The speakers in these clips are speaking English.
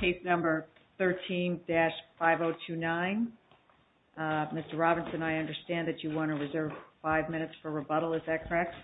case number 13-5029. Mr. Robinson, I understand that you want to reserve five minutes for rebuttal, is that correct?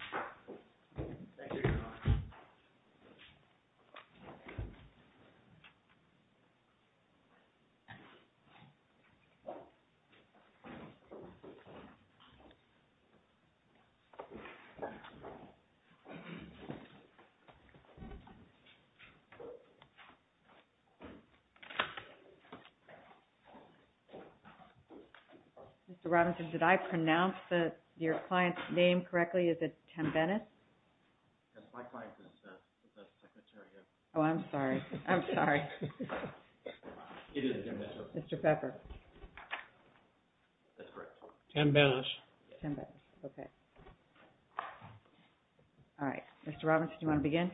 Mr. Robinson, did I pronounce your client's name correctly? Is it Tembenis? Oh, I'm sorry. I'm sorry. Mr. Pepper. That's correct. Tembenis. Tembenis. Okay. All right. Mr. Robinson, do you want to begin?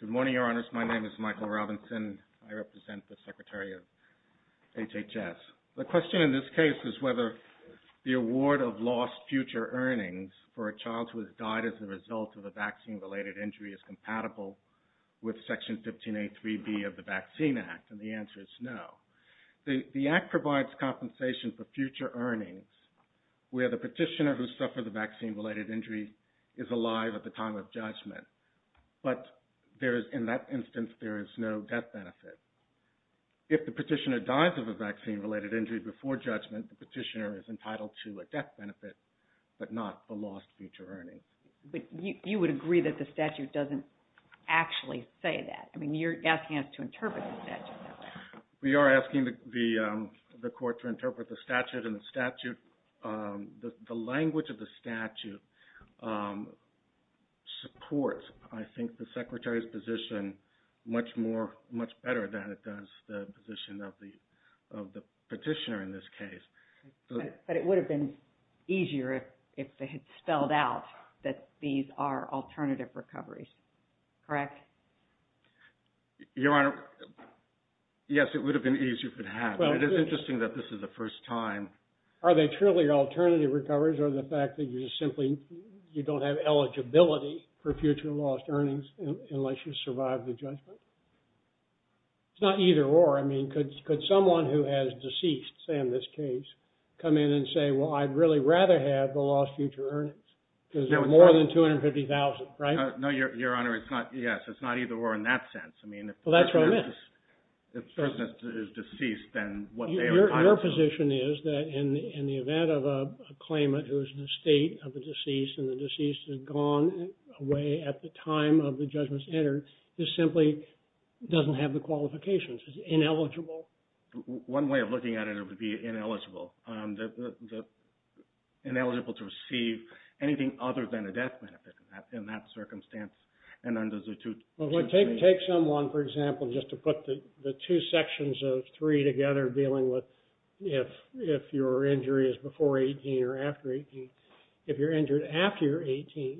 Good morning, Your Honors. My name is Michael Robinson. I represent the Secretary of HHS. The question in this case is whether the award of lost future earnings for a child who has died as a result of a vaccine-related injury is compatible with Section 15A3B of the Vaccine Act, and the answer is no. The Act provides compensation for future earnings where the petitioner who suffered the vaccine-related injury is alive at the time of judgment, but in that instance, there is no death benefit. If the petitioner dies of a vaccine-related injury before judgment, the petitioner is entitled to a death benefit but not the lost future earnings. But you would agree that the statute doesn't actually say that. I mean, you're asking us to interpret the statute. We are asking the Court to interpret the statute, and the language of the statute supports, I think, the Secretary's position much better than it does the position of the petitioner in this case. But it would have been easier if they had spelled out that these are alternative recoveries. Correct? Your Honor, yes, it would have been easier if it had. It is interesting that this is the first time. Are they truly alternative recoveries or the fact that you simply don't have eligibility for future lost earnings unless you survive the judgment? It's not either or. I mean, could someone who has deceased, say in this case, come in and say, well, I'd really rather have the lost future earnings because there are more than 250,000, right? No, Your Honor, it's not either or in that sense. Well, that's what I meant. If the person is deceased, then what they are entitled to. Your position is that in the event of a claimant who is in the state of a deceased and the deceased has gone away at the time of the judgments entered, this simply doesn't have the qualifications. It's ineligible. One way of looking at it would be ineligible. Ineligible to receive anything other than the death benefit in that circumstance. Well, take someone, for example, just to put the two sections of three together dealing with if your injury is before 18 or after 18. If you're injured after you're 18,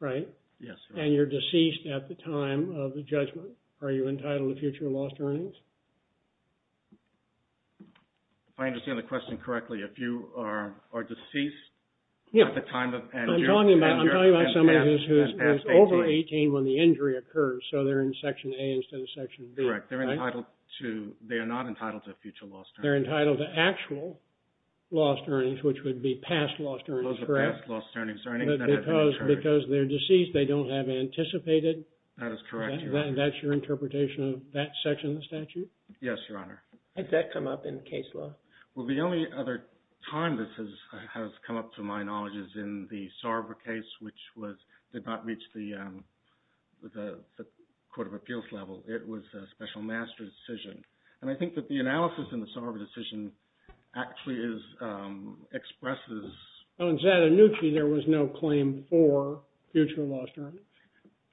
right? Yes, Your Honor. And you're deceased at the time of the judgment, are you entitled to future lost earnings? If I understand the question correctly, if you are deceased at the time of and you're at past 18. I'm talking about someone who's over 18 when the injury occurs, so they're in Section A instead of Section B, right? Correct. They are not entitled to future lost earnings. They're entitled to actual lost earnings, which would be past lost earnings, correct? Those are past lost earnings. Because they're deceased, they don't have anticipated. That is correct, Your Honor. That's your interpretation of that section of the statute? Yes, Your Honor. Has that come up in case law? Well, the only other time this has come up, to my knowledge, is in the Sarver case, which did not reach the court of appeals level. It was a special master's decision. And I think that the analysis in the Sarver decision actually expresses... In Zadonucci, there was no claim for future lost earnings.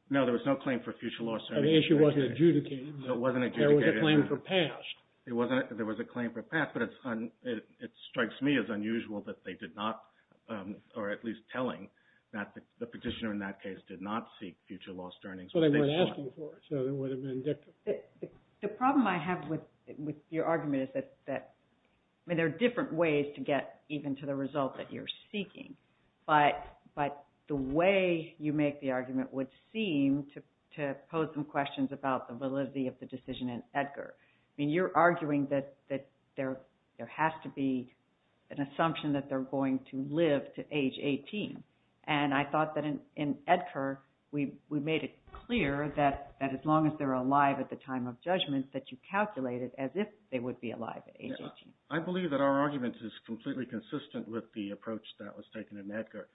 No, there was no claim for future lost earnings. The issue wasn't adjudicated. It wasn't adjudicated. There was a claim for past. There was a claim for past, but it strikes me as unusual that they did not, or at least telling, that the petitioner in that case did not seek future lost earnings. But they weren't asking for it, so they would have been indicted. The problem I have with your argument is that there are different ways to get even to the result that you're seeking. But the way you make the argument would seem to pose some questions about the validity of the decision in Edgar. I mean, you're arguing that there has to be an assumption that they're going to live to age 18. And I thought that in Edgar, we made it clear that as long as they're alive at the time of judgment, that you calculated as if they would be alive at age 18. I believe that our argument is completely consistent with the approach that was taken in Edgar.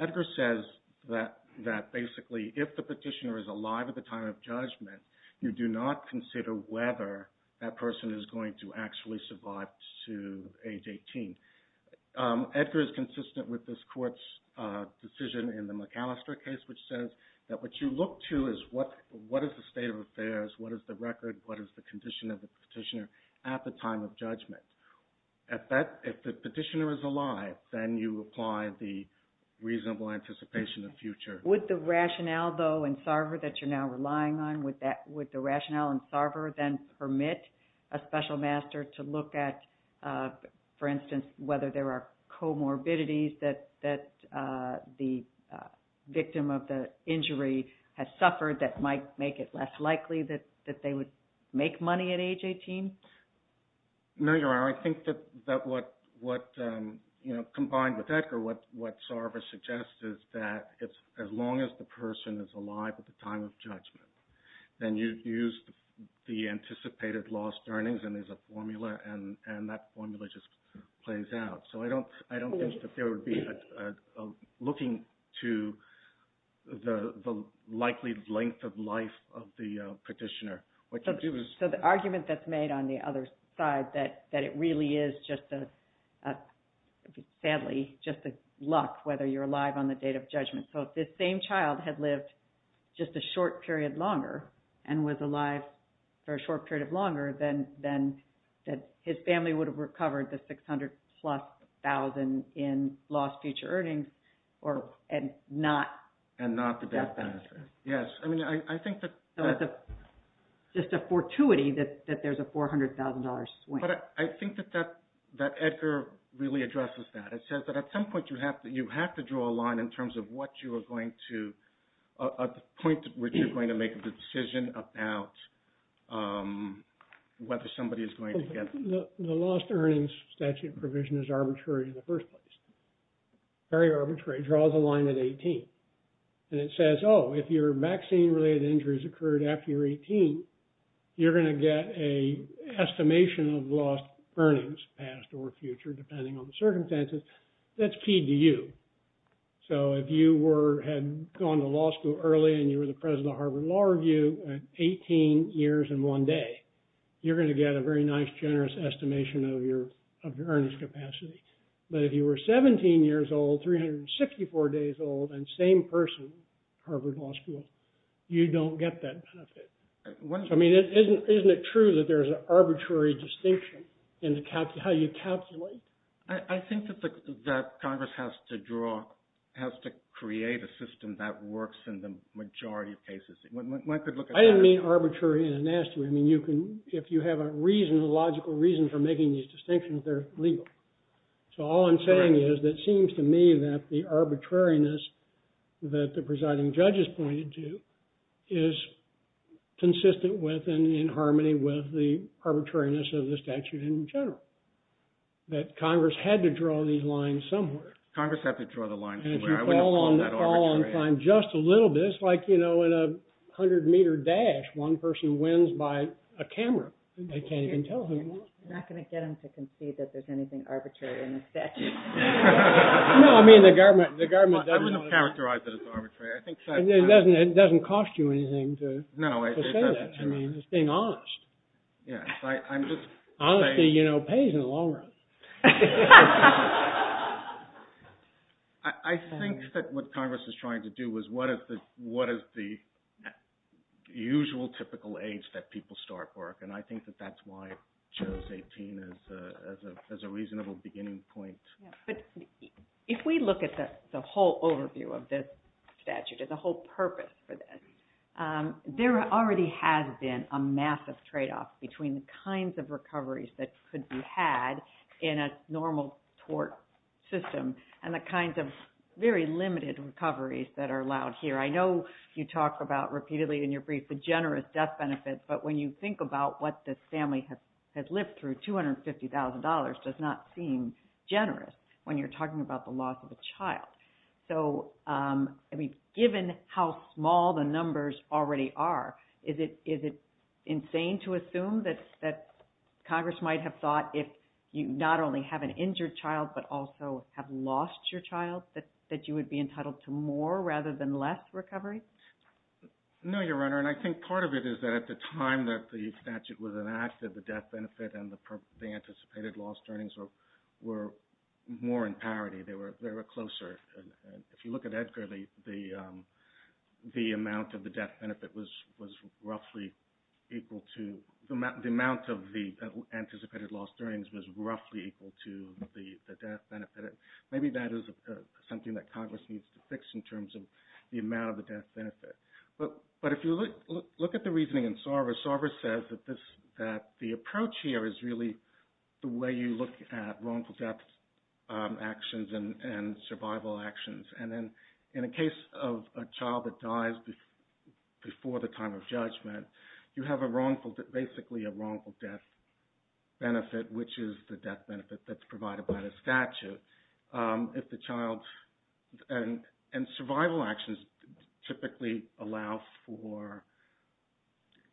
Edgar says that basically if the petitioner is alive at the time of judgment, you do not consider whether that person is going to actually survive to age 18. Edgar is consistent with this court's decision in the McAllister case, which says that what you look to is what is the state of affairs, what is the record, what is the condition of the petitioner at the time of judgment. If the petitioner is alive, then you apply the reasonable anticipation of future. Would the rationale, though, in Sarver that you're now relying on, would the rationale in Sarver then permit a special master to look at, for instance, whether there are comorbidities that the victim of the injury has suffered that might make it less likely that they would make money at age 18? No, Your Honor. I think that what, combined with Edgar, what Sarver suggests is that as long as the person is alive at the time of judgment, then you use the anticipated lost earnings as a formula, and that formula just plays out. So I don't think that there would be a looking to the likely length of life of the petitioner. So the argument that's made on the other side that it really is just a, sadly, just a luck whether you're alive on the date of judgment. So if this same child had lived just a short period longer and was alive for a short period of longer, then his family would have recovered the $600,000-plus in lost future earnings and not the death benefit. Yes. I mean, I think that... So it's just a fortuity that there's a $400,000 swing. But I think that Edgar really addresses that. It says that at some point you have to draw a line in terms of what you are going to, a point at which you're going to make the decision about whether somebody is going to get... The lost earnings statute provision is arbitrary in the first place, very arbitrary. It draws a line at 18. And it says, oh, if your vaccine-related injuries occurred after you're 18, you're going to get an estimation of lost earnings, past or future, depending on the circumstances. That's key to you. So if you had gone to law school early and you were the president of the Harvard Law Review, at 18 years and one day, you're going to get a very nice, generous estimation of your earnings capacity. But if you were 17 years old, 364 days old, and same person, Harvard Law School, you don't get that benefit. I mean, isn't it true that there's an arbitrary distinction in how you calculate? I think that Congress has to draw, has to create a system that works in the majority of cases. I didn't mean arbitrary in a nasty way. I mean, if you have a reason, a logical reason for making these distinctions, they're legal. So all I'm saying is, it seems to me that the arbitrariness that the presiding judge has pointed to is consistent with and in harmony with the arbitrariness of the statute in general. That Congress had to draw these lines somewhere. Congress had to draw the lines somewhere. And if you fall on time just a little bit, it's like, you know, in a 100-meter dash, one person wins by a camera. They can't even tell who won. I'm not going to get them to concede that there's anything arbitrary in the statute. No, I mean, the government doesn't— I wouldn't characterize it as arbitrary. It doesn't cost you anything to say that. No, it doesn't. I mean, it's being honest. Yes, I'm just saying— Honesty, you know, pays in the long run. I think that what Congress is trying to do is, what is the usual typical age that people start work? And I think that that's why CHOS 18 is a reasonable beginning point. But if we look at the whole overview of this statute and the whole purpose for this, there already has been a massive tradeoff between the kinds of recoveries that could be had in a normal tort system and the kinds of very limited recoveries that are allowed here. I know you talk about repeatedly in your brief the generous death benefits, but when you think about what the family has lived through, $250,000 does not seem generous when you're talking about the loss of a child. So, I mean, given how small the numbers already are, is it insane to assume that Congress might have thought if you not only have an injured child but also have lost your child that you would be entitled to more rather than less recovery? No, Your Honor, and I think part of it is that at the time that the statute was enacted, the death benefit and the anticipated loss earnings were more in parity. They were closer. If you look at Edgar Lee, the amount of the death benefit was roughly equal to – the amount of the anticipated loss earnings was roughly equal to the death benefit. Maybe that is something that Congress needs to fix in terms of the amount of the death benefit. But if you look at the reasoning in Sarver, Sarver says that the approach here is really the way you look at wrongful death actions and survival actions. And then in a case of a child that dies before the time of judgment, you have basically a wrongful death benefit, which is the death benefit that's provided by the statute. And survival actions typically allow for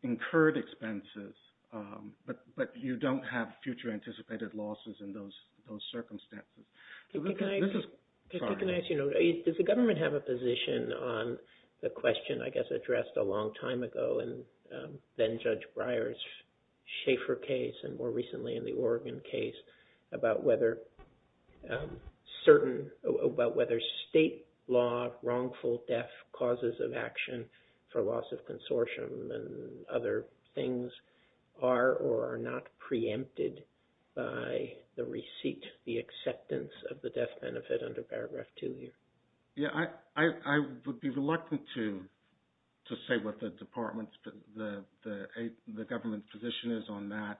incurred expenses, but you don't have future anticipated losses in those circumstances. Can I ask – does the government have a position on the question, I guess, addressed a long time ago in then-Judge Breyer's Schaeffer case and more recently in the Oregon case about whether certain – about whether state law wrongful death causes of action for loss of consortium and other things are or are not preempted by the receipt, the acceptance of the death benefit under Paragraph 2 here? Yeah, I would be reluctant to say what the department's – the government position is on that.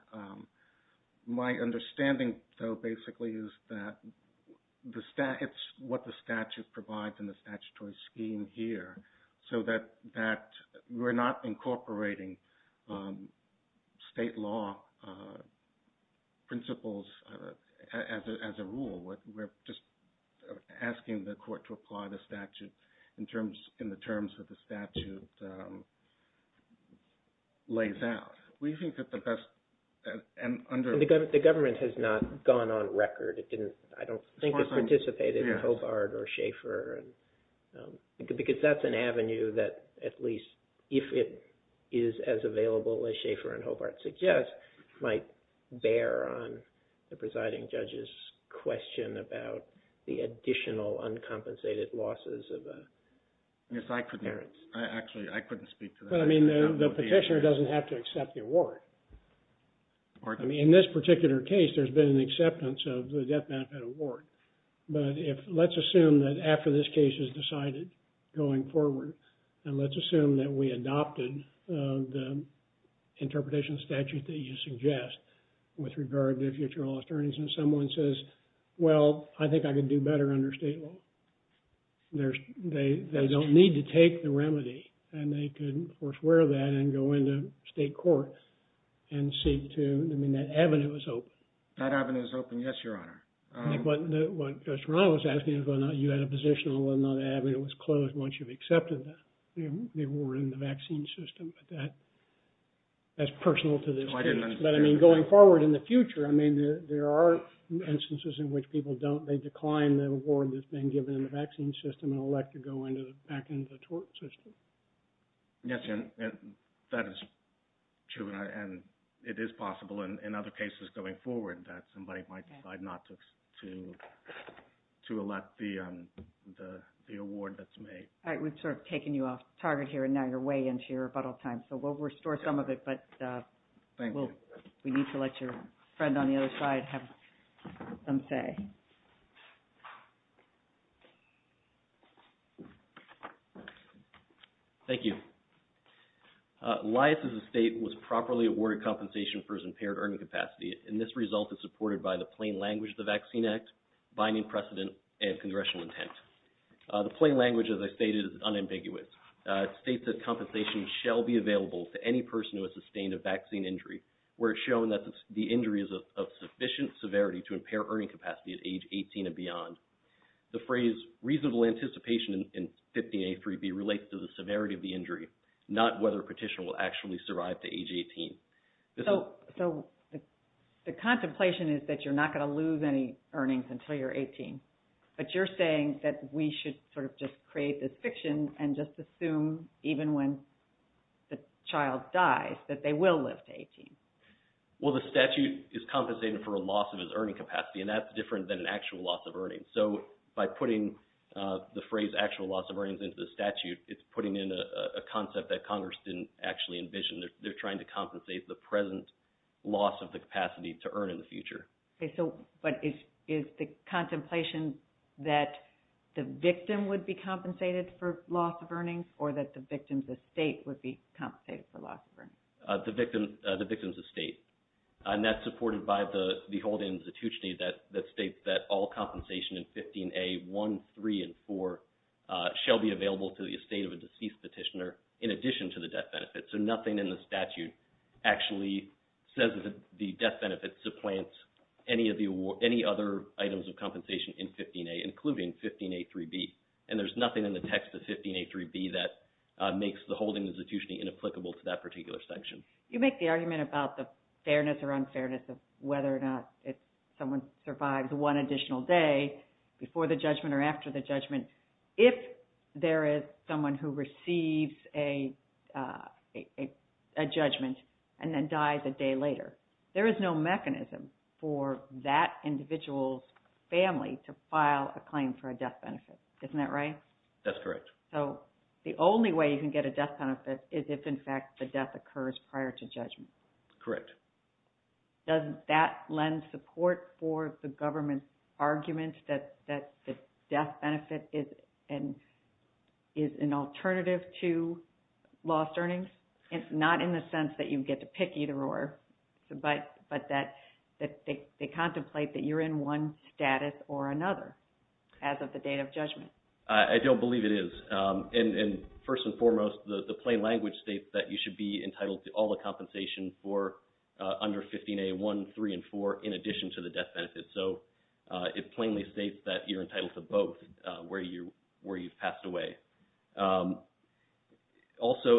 My understanding, though, basically is that the – it's what the statute provides in the statutory scheme here, so that we're not incorporating state law principles as a rule. We're just asking the court to apply the statute in the terms that the statute lays out. We think that the best – and under – The government has not gone on record. It didn't – I don't think it's participated in Hobart or Schaeffer. Because that's an avenue that at least, if it is as available as Schaeffer and Hobart suggest, might bear on the presiding judge's question about the additional uncompensated losses of parents. Yes, I could – actually, I couldn't speak to that. Well, I mean, the petitioner doesn't have to accept the award. I mean, in this particular case, there's been an acceptance of the death benefit award. But if – let's assume that after this case is decided going forward, and let's assume that we adopted the interpretation statute that you suggest with regard to future loss earnings, and someone says, well, I think I could do better under state law. There's – they don't need to take the remedy, and they could, of course, wear that and go into state court and seek to – I mean, that avenue is open. That avenue is open, yes, Your Honor. I think what Judge Rano was asking is whether or not you had a position on whether or not an avenue was closed once you've accepted the award in the vaccine system. But that's personal to this case. So I didn't understand. But, I mean, going forward in the future, I mean, there are instances in which people don't – they decline the award that's been given in the vaccine system and elect to go back into the tort system. Yes, and that is true, and it is possible in other cases going forward that somebody might decide not to elect the award that's made. All right. We've sort of taken you off target here, and now you're way into your rebuttal time. So we'll restore some of it, but we need to let your friend on the other side have some say. Thank you. Elias' estate was properly awarded compensation for his impaired earning capacity, and this result is supported by the plain language of the Vaccine Act, binding precedent, and congressional intent. The plain language, as I stated, is unambiguous. It states that compensation shall be available to any person who has sustained a vaccine injury, where it's shown that the injury is of sufficient severity to impair earning capacity at age 18 and beyond. The phrase reasonable anticipation in 50A3B relates to the severity of the injury, not whether a petitioner will actually survive to age 18. So the contemplation is that you're not going to lose any earnings until you're 18, but you're saying that we should sort of just create this fiction and just assume even when the child dies that they will live to 18. Well, the statute is compensated for a loss of his earning capacity, and that's different than an actual loss of earnings. So by putting the phrase actual loss of earnings into the statute, it's putting in a concept that Congress didn't actually envision. They're trying to compensate the present loss of the capacity to earn in the future. But is the contemplation that the victim would be compensated for loss of earnings or that the victim's estate would be compensated for loss of earnings? The victim's estate. And that's supported by the beholden institution that states that all compensation in 50A1, 3, and 4 shall be available to the estate of a deceased petitioner in addition to the death benefit. So nothing in the statute actually says that the death benefit supplants any other items of compensation in 15A, including 15A3B. And there's nothing in the text of 15A3B that makes the beholden institution inapplicable to that particular section. You make the argument about the fairness or unfairness of whether or not if someone survives one additional day before the judgment or after the judgment. If there is someone who receives a judgment and then dies a day later, there is no mechanism for that individual's family to file a claim for a death benefit. Isn't that right? That's correct. So the only way you can get a death benefit is if, in fact, the death occurs prior to judgment. Correct. Does that lend support for the government's argument that the death benefit is an alternative to lost earnings? It's not in the sense that you get to pick either or, but that they contemplate that you're in one status or another as of the date of judgment. I don't believe it is. First and foremost, the plain language states that you should be entitled to all the compensation for under 15A1, 3, and 4, in addition to the death benefit. So it plainly states that you're entitled to both where you've passed away. Also,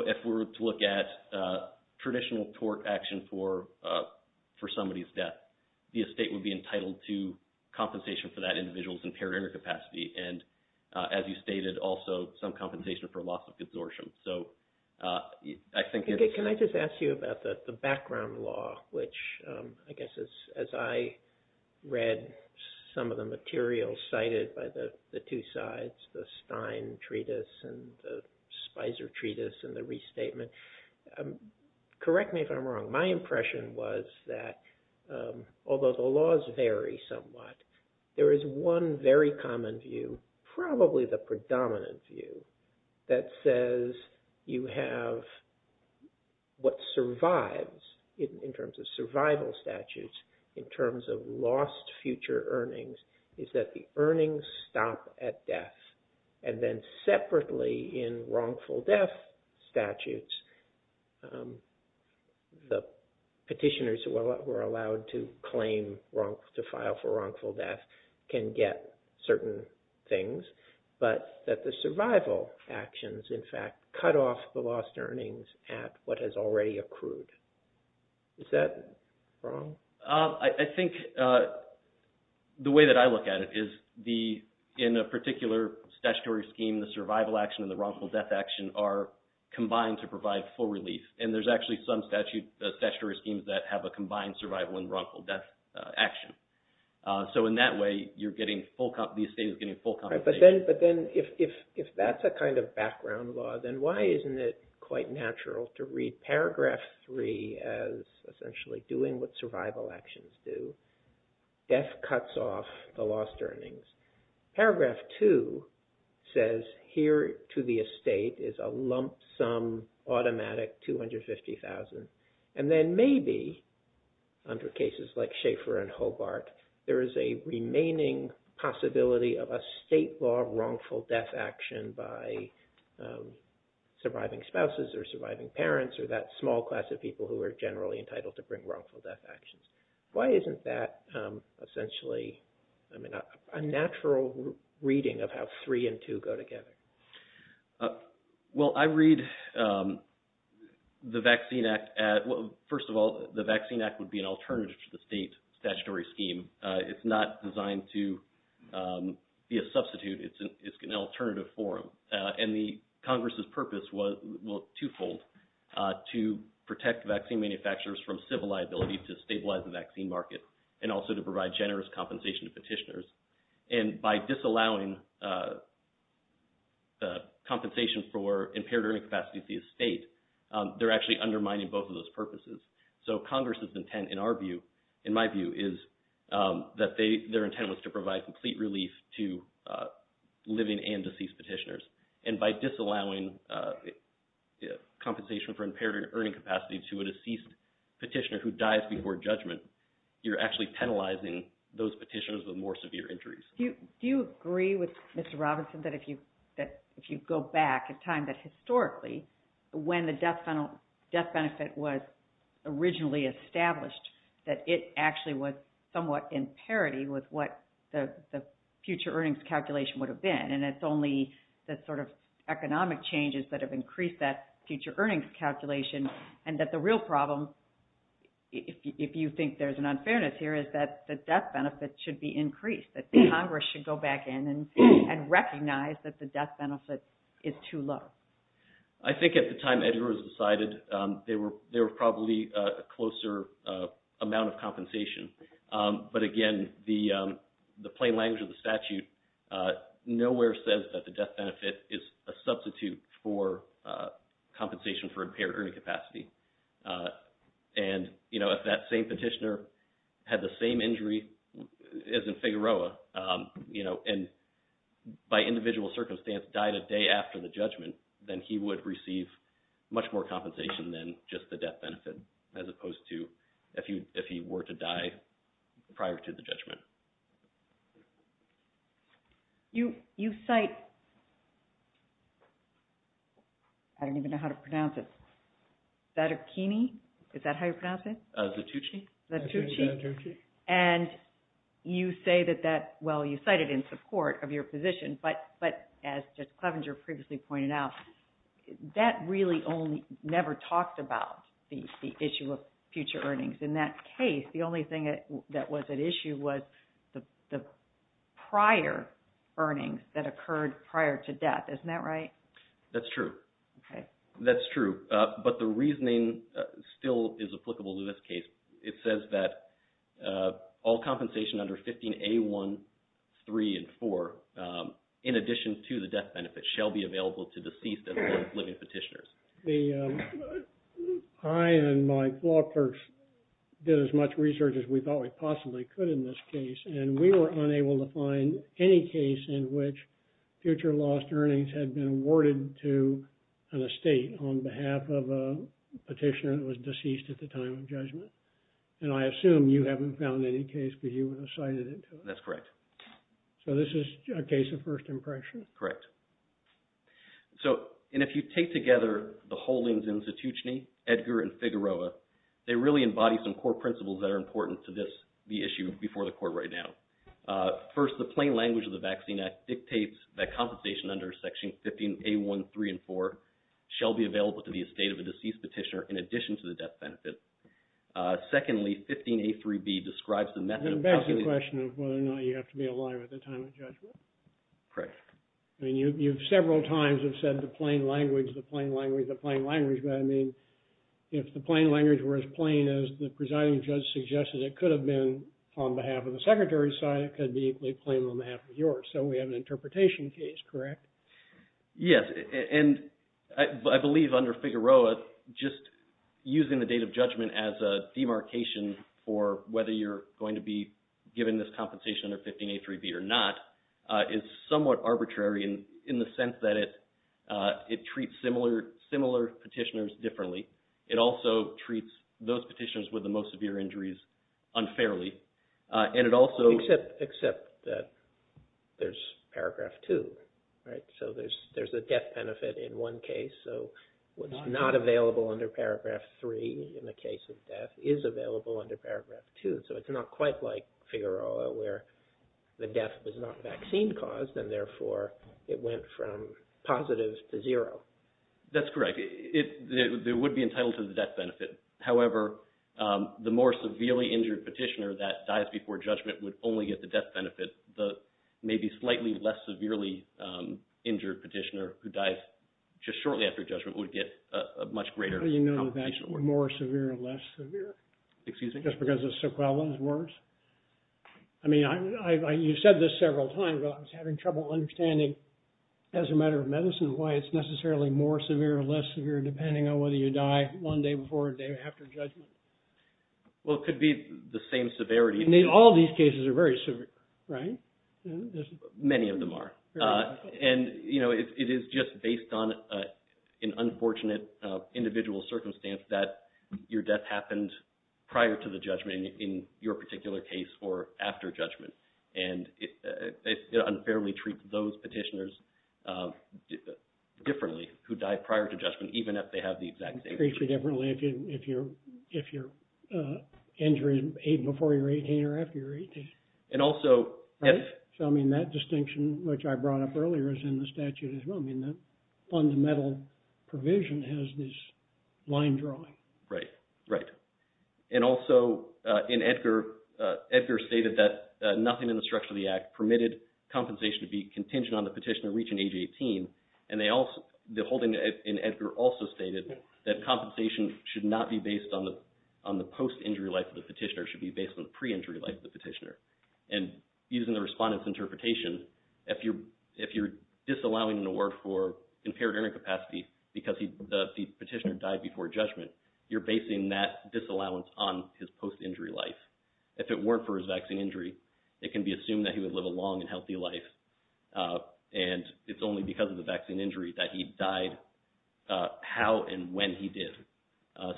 if we were to look at traditional tort action for somebody's death, the estate would be entitled to compensation for that individual's impaired inner capacity. And, as you stated, also some compensation for loss of consortium. So I think it's... Can I just ask you about the background law, which, I guess, as I read some of the material cited by the two sides, the Stein treatise and the Spicer treatise and the restatement, correct me if I'm wrong, my impression was that, although the laws vary somewhat, there is one very common view, probably the predominant view, that says you have what survives in terms of survival statutes, in terms of lost future earnings, is that the earnings stop at death. And then separately in wrongful death statutes, the petitioners who are allowed to file for wrongful death can get certain things, but that the survival actions, in fact, cut off the lost earnings at what has already accrued. Is that wrong? I think the way that I look at it is in a particular statutory scheme, the survival action and the wrongful death action are combined to provide full relief. And there's actually some statutory schemes that have a combined survival and wrongful death action. So in that way, the estate is getting full compensation. But then if that's a kind of background law, then why isn't it quite natural to read Paragraph 3 as essentially doing what survival actions do? Death cuts off the lost earnings. Paragraph 2 says here to the estate is a lump sum automatic $250,000. And then maybe under cases like Schaeffer and Hobart, there is a remaining possibility of a state law wrongful death action by surviving spouses or surviving parents or that small class of people who are generally entitled to bring wrongful death actions. Why isn't that essentially a natural reading of how 3 and 2 go together? Well, I read the Vaccine Act. First of all, the Vaccine Act would be an alternative to the state statutory scheme. It's not designed to be a substitute. It's an alternative forum. And the Congress's purpose was twofold to protect vaccine manufacturers from civil liability to stabilize the vaccine market and also to provide generous compensation to petitioners. And by disallowing compensation for impaired earning capacity to the estate, they're actually undermining both of those purposes. So Congress's intent, in my view, is that their intent was to provide complete relief to living and deceased petitioners. And by disallowing compensation for impaired earning capacity to a deceased petitioner who dies before judgment, you're actually penalizing those petitioners with more severe injuries. Do you agree with Mr. Robinson that if you go back in time, that historically when the death benefit was originally established, that it actually was somewhat in parity with what the future earnings calculation would have been, and it's only the sort of economic changes that have increased that future earnings calculation and that the real problem, if you think there's an unfairness here, is that the death benefit should be increased, that Congress should go back in and recognize that the death benefit is too low? I think at the time Edgar was decided, there were probably a closer amount of compensation. But again, the plain language of the statute nowhere says that the death benefit is a substitute for compensation for impaired earning capacity. And if that same petitioner had the same injury as in Figueroa, and by individual circumstance died a day after the judgment, then he would receive much more compensation than just the death benefit, as opposed to if he were to die prior to the judgment. You cite, I don't even know how to pronounce it, Zatucchi? Is that how you pronounce it? Zatucci. Zatucci. And you say that that, well, you cite it in support of your position, but as Judge Clevenger previously pointed out, that really only never talked about the issue of future earnings. In that case, the only thing that was at issue was the prior earnings that occurred prior to death. Isn't that right? That's true. Okay. That's true. But the reasoning still is applicable to this case. It says that all compensation under 15A1, 3, and 4, in addition to the death benefit, shall be available to deceased and living petitioners. I and my law clerks did as much research as we thought we possibly could in this case, and we were unable to find any case in which future lost earnings had been awarded to an estate on behalf of a petitioner that was deceased at the time of judgment. And I assume you haven't found any case, but you cited it. That's correct. So this is a case of first impression. Correct. And if you take together the Holdings Institution, Edgar, and Figueroa, they really embody some core principles that are important to the issue before the court right now. First, the plain language of the Vaccine Act dictates that compensation under Section 15A1, 3, and 4 shall be available to the estate of a deceased petitioner in addition to the death benefit. Secondly, 15A3b describes the method of housing the estate. And that's the question of whether or not you have to be alive at the time of judgment. Correct. I mean, you've several times have said the plain language, the plain language, the plain language. But I mean, if the plain language were as plain as the presiding judge suggested it could have been on behalf of the Secretary's side, it could be equally plain on behalf of yours. So we have an interpretation case, correct? Yes. And I believe under Figueroa, just using the date of judgment as a demarcation for whether you're going to be in the sense that it treats similar petitioners differently. It also treats those petitioners with the most severe injuries unfairly. And it also… Except that there's paragraph 2, right? So there's a death benefit in one case. So what's not available under paragraph 3 in the case of death is available under paragraph 2. And so it's not quite like Figueroa where the death was not vaccine caused and therefore it went from positive to zero. That's correct. It would be entitled to the death benefit. However, the more severely injured petitioner that dies before judgment would only get the death benefit. The maybe slightly less severely injured petitioner who dies just shortly after judgment would get a much greater… How do you know if that's more severe or less severe? Excuse me? Just because the sequela is worse? I mean, you've said this several times, but I was having trouble understanding as a matter of medicine why it's necessarily more severe or less severe depending on whether you die one day before or day after judgment. Well, it could be the same severity. All these cases are very severe, right? Many of them are. And, you know, it is just based on an unfortunate individual circumstance that your death happened prior to the judgment in your particular case or after judgment. And it unfairly treats those petitioners differently who died prior to judgment even if they have the exact same… Treats you differently if your injury is before you're 18 or after you're 18. And also… So, I mean, that distinction which I brought up earlier is in the statute as well. I mean, the fundamental provision has this line drawing. Right, right. And also in Edgar, Edgar stated that nothing in the structure of the act permitted compensation to be contingent on the petitioner reaching age 18. And they also… The holding in Edgar also stated that compensation should not be based on the post-injury life of the petitioner. It should be based on the pre-injury life of the petitioner. And using the respondent's interpretation, if you're disallowing an award for impaired earning capacity because the petitioner died before judgment, you're basing that disallowance on his post-injury life. If it weren't for his vaccine injury, it can be assumed that he would live a long and healthy life. And it's only because of the vaccine injury that he died how and when he did.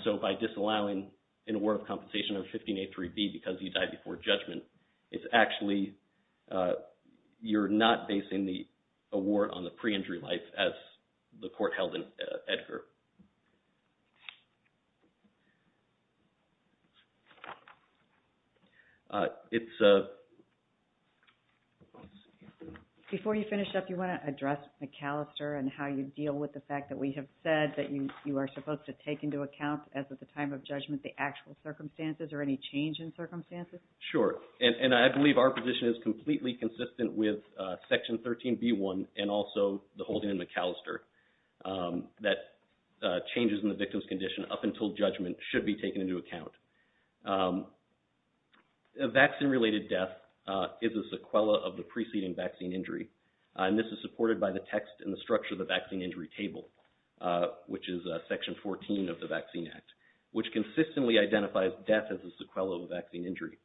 So, by disallowing an award of compensation of 15A3B because he died before judgment, it's actually… You're not basing the award on the pre-injury life as the court held in Edgar. It's… Before you finish up, you want to address McAllister and how you deal with the fact that we have said that you are supposed to take into account as of the time of judgment the actual circumstances or any change in circumstances? Sure. And I believe our position is completely consistent with Section 13B1 and also the holding in McAllister. That changes in the victim's condition up until judgment should be taken into account. A vaccine-related death is a sequela of the preceding vaccine injury. And this is supported by the text in the structure of the vaccine injury table, which is Section 14 of the Vaccine Act, which consistently identifies death as a sequela of a vaccine injury.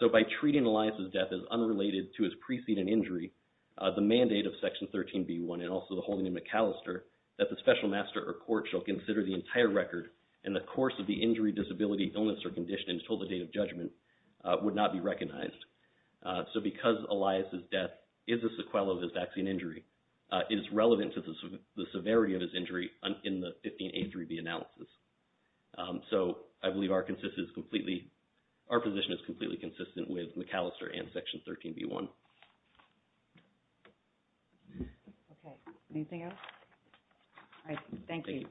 So, by treating Elias' death as unrelated to his preceding injury, the mandate of Section 13B1 and also the holding in McAllister that the special master or court shall consider the entire record in the course of the injury, disability, illness, or condition until the date of judgment would not be recognized. So, because Elias' death is a sequela of his vaccine injury, it is relevant to the severity of his injury in the 15A3B analysis. So, I believe our position is completely consistent with McAllister and Section 13B1. Okay. Anything else? All right. Thank you.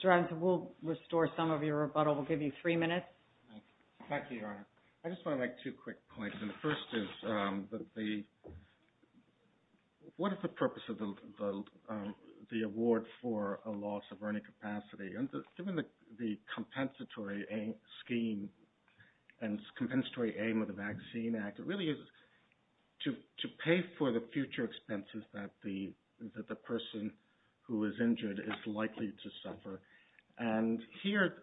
Mr. Robinson, we'll restore some of your rebuttal. We'll give you three minutes. Thank you, Your Honor. I just want to make two quick points. And the first is, what is the purpose of the award for a loss of earning capacity? Given the compensatory scheme and compensatory aim of the Vaccine Act, it really is to pay for the future expenses that the person who is injured is likely to suffer. And here,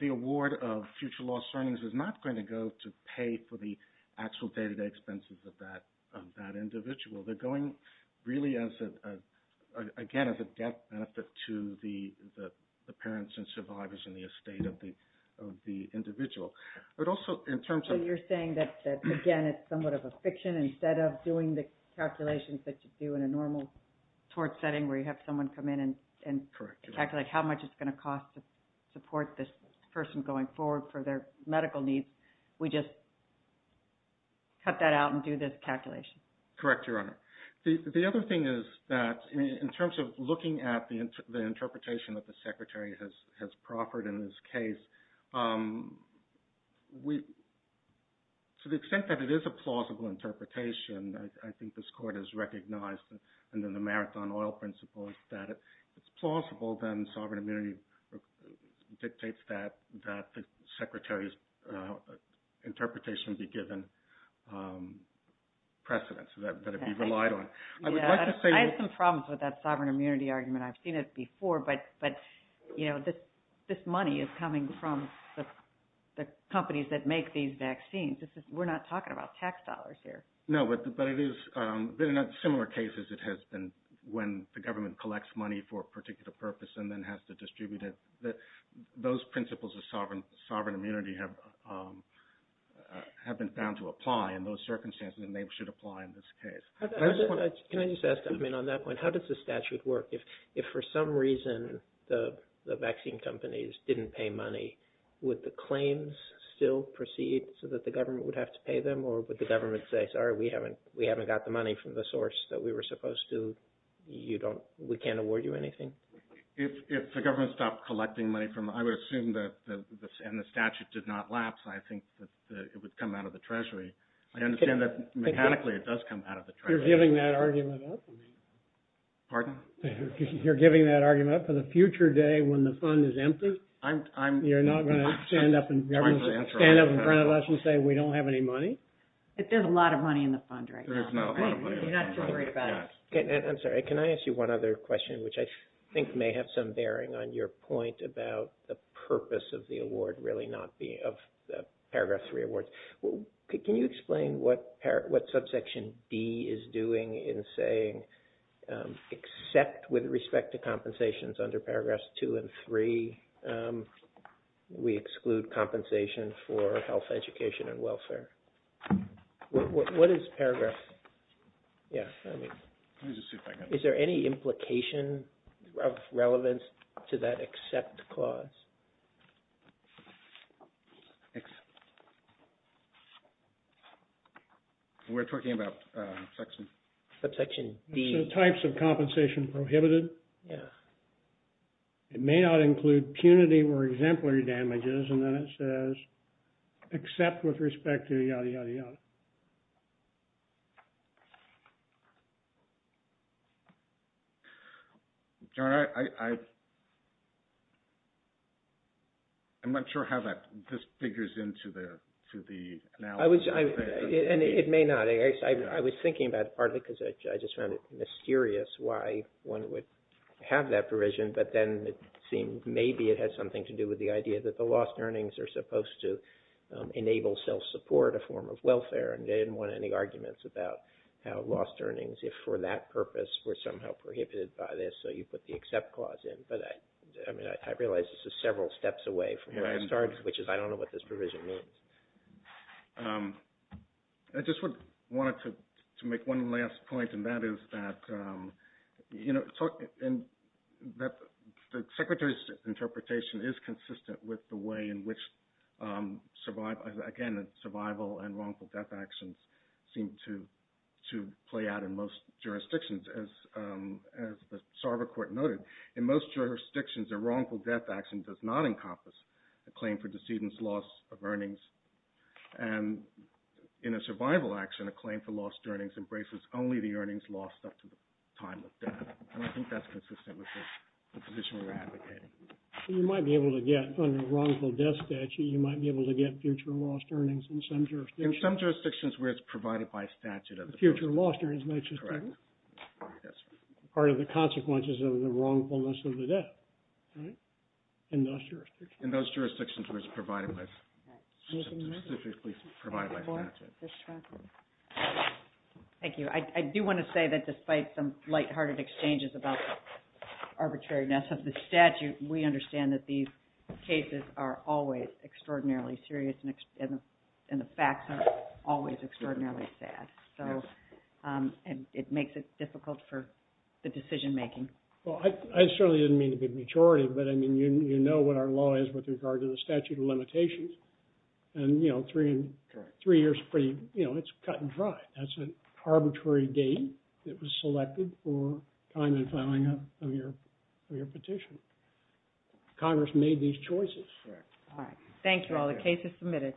the award of future loss earnings is not going to go to pay for the actual day-to-day expenses of that individual. They're going, again, as a death benefit to the parents and survivors and the estate of the individual. So, you're saying that, again, it's somewhat of a fiction. Instead of doing the calculations that you do in a normal tort setting where you have someone come in and calculate how much it's going to cost to support this person going forward for their medical needs, we just cut that out and do this calculation? Correct, Your Honor. The other thing is that, in terms of looking at the interpretation that the Secretary has proffered in this case, to the extent that it is a plausible interpretation, I think this Court has recognized under the Marathon Oil Principle that if it's plausible, then sovereign immunity dictates that the Secretary's interpretation be given precedence that it be relied on. I would like to say… I have some problems with that sovereign immunity argument. I've seen it before, but this money is coming from the companies that make these vaccines. We're not talking about tax dollars here. No, but in similar cases it has been when the government collects money for a particular purpose and then has to distribute it. Those principles of sovereign immunity have been found to apply in those circumstances, and they should apply in this case. Can I just ask, on that point, how does the statute work? If for some reason the vaccine companies didn't pay money, would the claims still proceed so that the government would have to pay them, or would the government say, sorry, we haven't got the money from the source that we were supposed to? We can't award you anything? If the government stopped collecting money from… I would assume that… and the statute did not lapse, I think that it would come out of the Treasury. I understand that mechanically it does come out of the Treasury. You're giving that argument up? Pardon? You're giving that argument up for the future day when the fund is empty? I'm… You're not going to stand up in front of us and say we don't have any money? There's a lot of money in the fund right now. There is not a lot of money. You're not too worried about it. I'm sorry, can I ask you one other question, which I think may have some bearing on your point about the purpose of the award really not being… of the Paragraph 3 awards? Can you explain what subsection D is doing in saying, except with respect to compensations under Paragraphs 2 and 3, we exclude compensation for health, education, and welfare? What is Paragraph… Yeah. Let me just see if I can… Is there any implication of relevance to that except clause? We're talking about section… Subsection D. So types of compensation prohibited? Yeah. It may not include punity or exemplary damages and then it says except with respect to yada, yada, yada. John, I'm not sure how that just figures into the analysis. And it may not. I was thinking about it partly because I just found it mysterious why one would have that provision, but then it seemed maybe it had something to do with the idea that the lost earnings are supposed to enable self-support, a form of welfare, and they didn't want any arguments about how lost earnings, if for that purpose, were somehow prohibited by this, so you put the except clause in. But I realize this is several steps away from where I started, which is I don't know what this provision means. I just wanted to make one last point, and that is that the Secretary's interpretation is consistent with the way in which, again, survival and wrongful death actions seem to play out in most jurisdictions. As the Sarver Court noted, in most jurisdictions, a wrongful death action does not encompass a claim for decedent's loss of earnings. And in a survival action, a claim for lost earnings embraces only the earnings lost up to the time of death. And I think that's consistent with the position we're advocating. You might be able to get, under a wrongful death statute, you might be able to get future lost earnings in some jurisdictions. In some jurisdictions where it's provided by statute as a provision. Correct. Part of the consequences of the wrongfulness of the death, right, in those jurisdictions. In those jurisdictions where it's provided by statute. Thank you. I do want to say that despite some lighthearted exchanges about the arbitrariness of the statute, we understand that these cases are always extraordinarily serious, and the facts are always extraordinarily sad. And it makes it difficult for the decision making. Well, I certainly didn't mean to be pejorative, but I mean, you know what our law is with regard to the statute of limitations. And, you know, three years, you know, it's cut and dry. That's an arbitrary date that was selected for time and filing of your petition. Congress made these choices. All right. Thank you all. The case is submitted.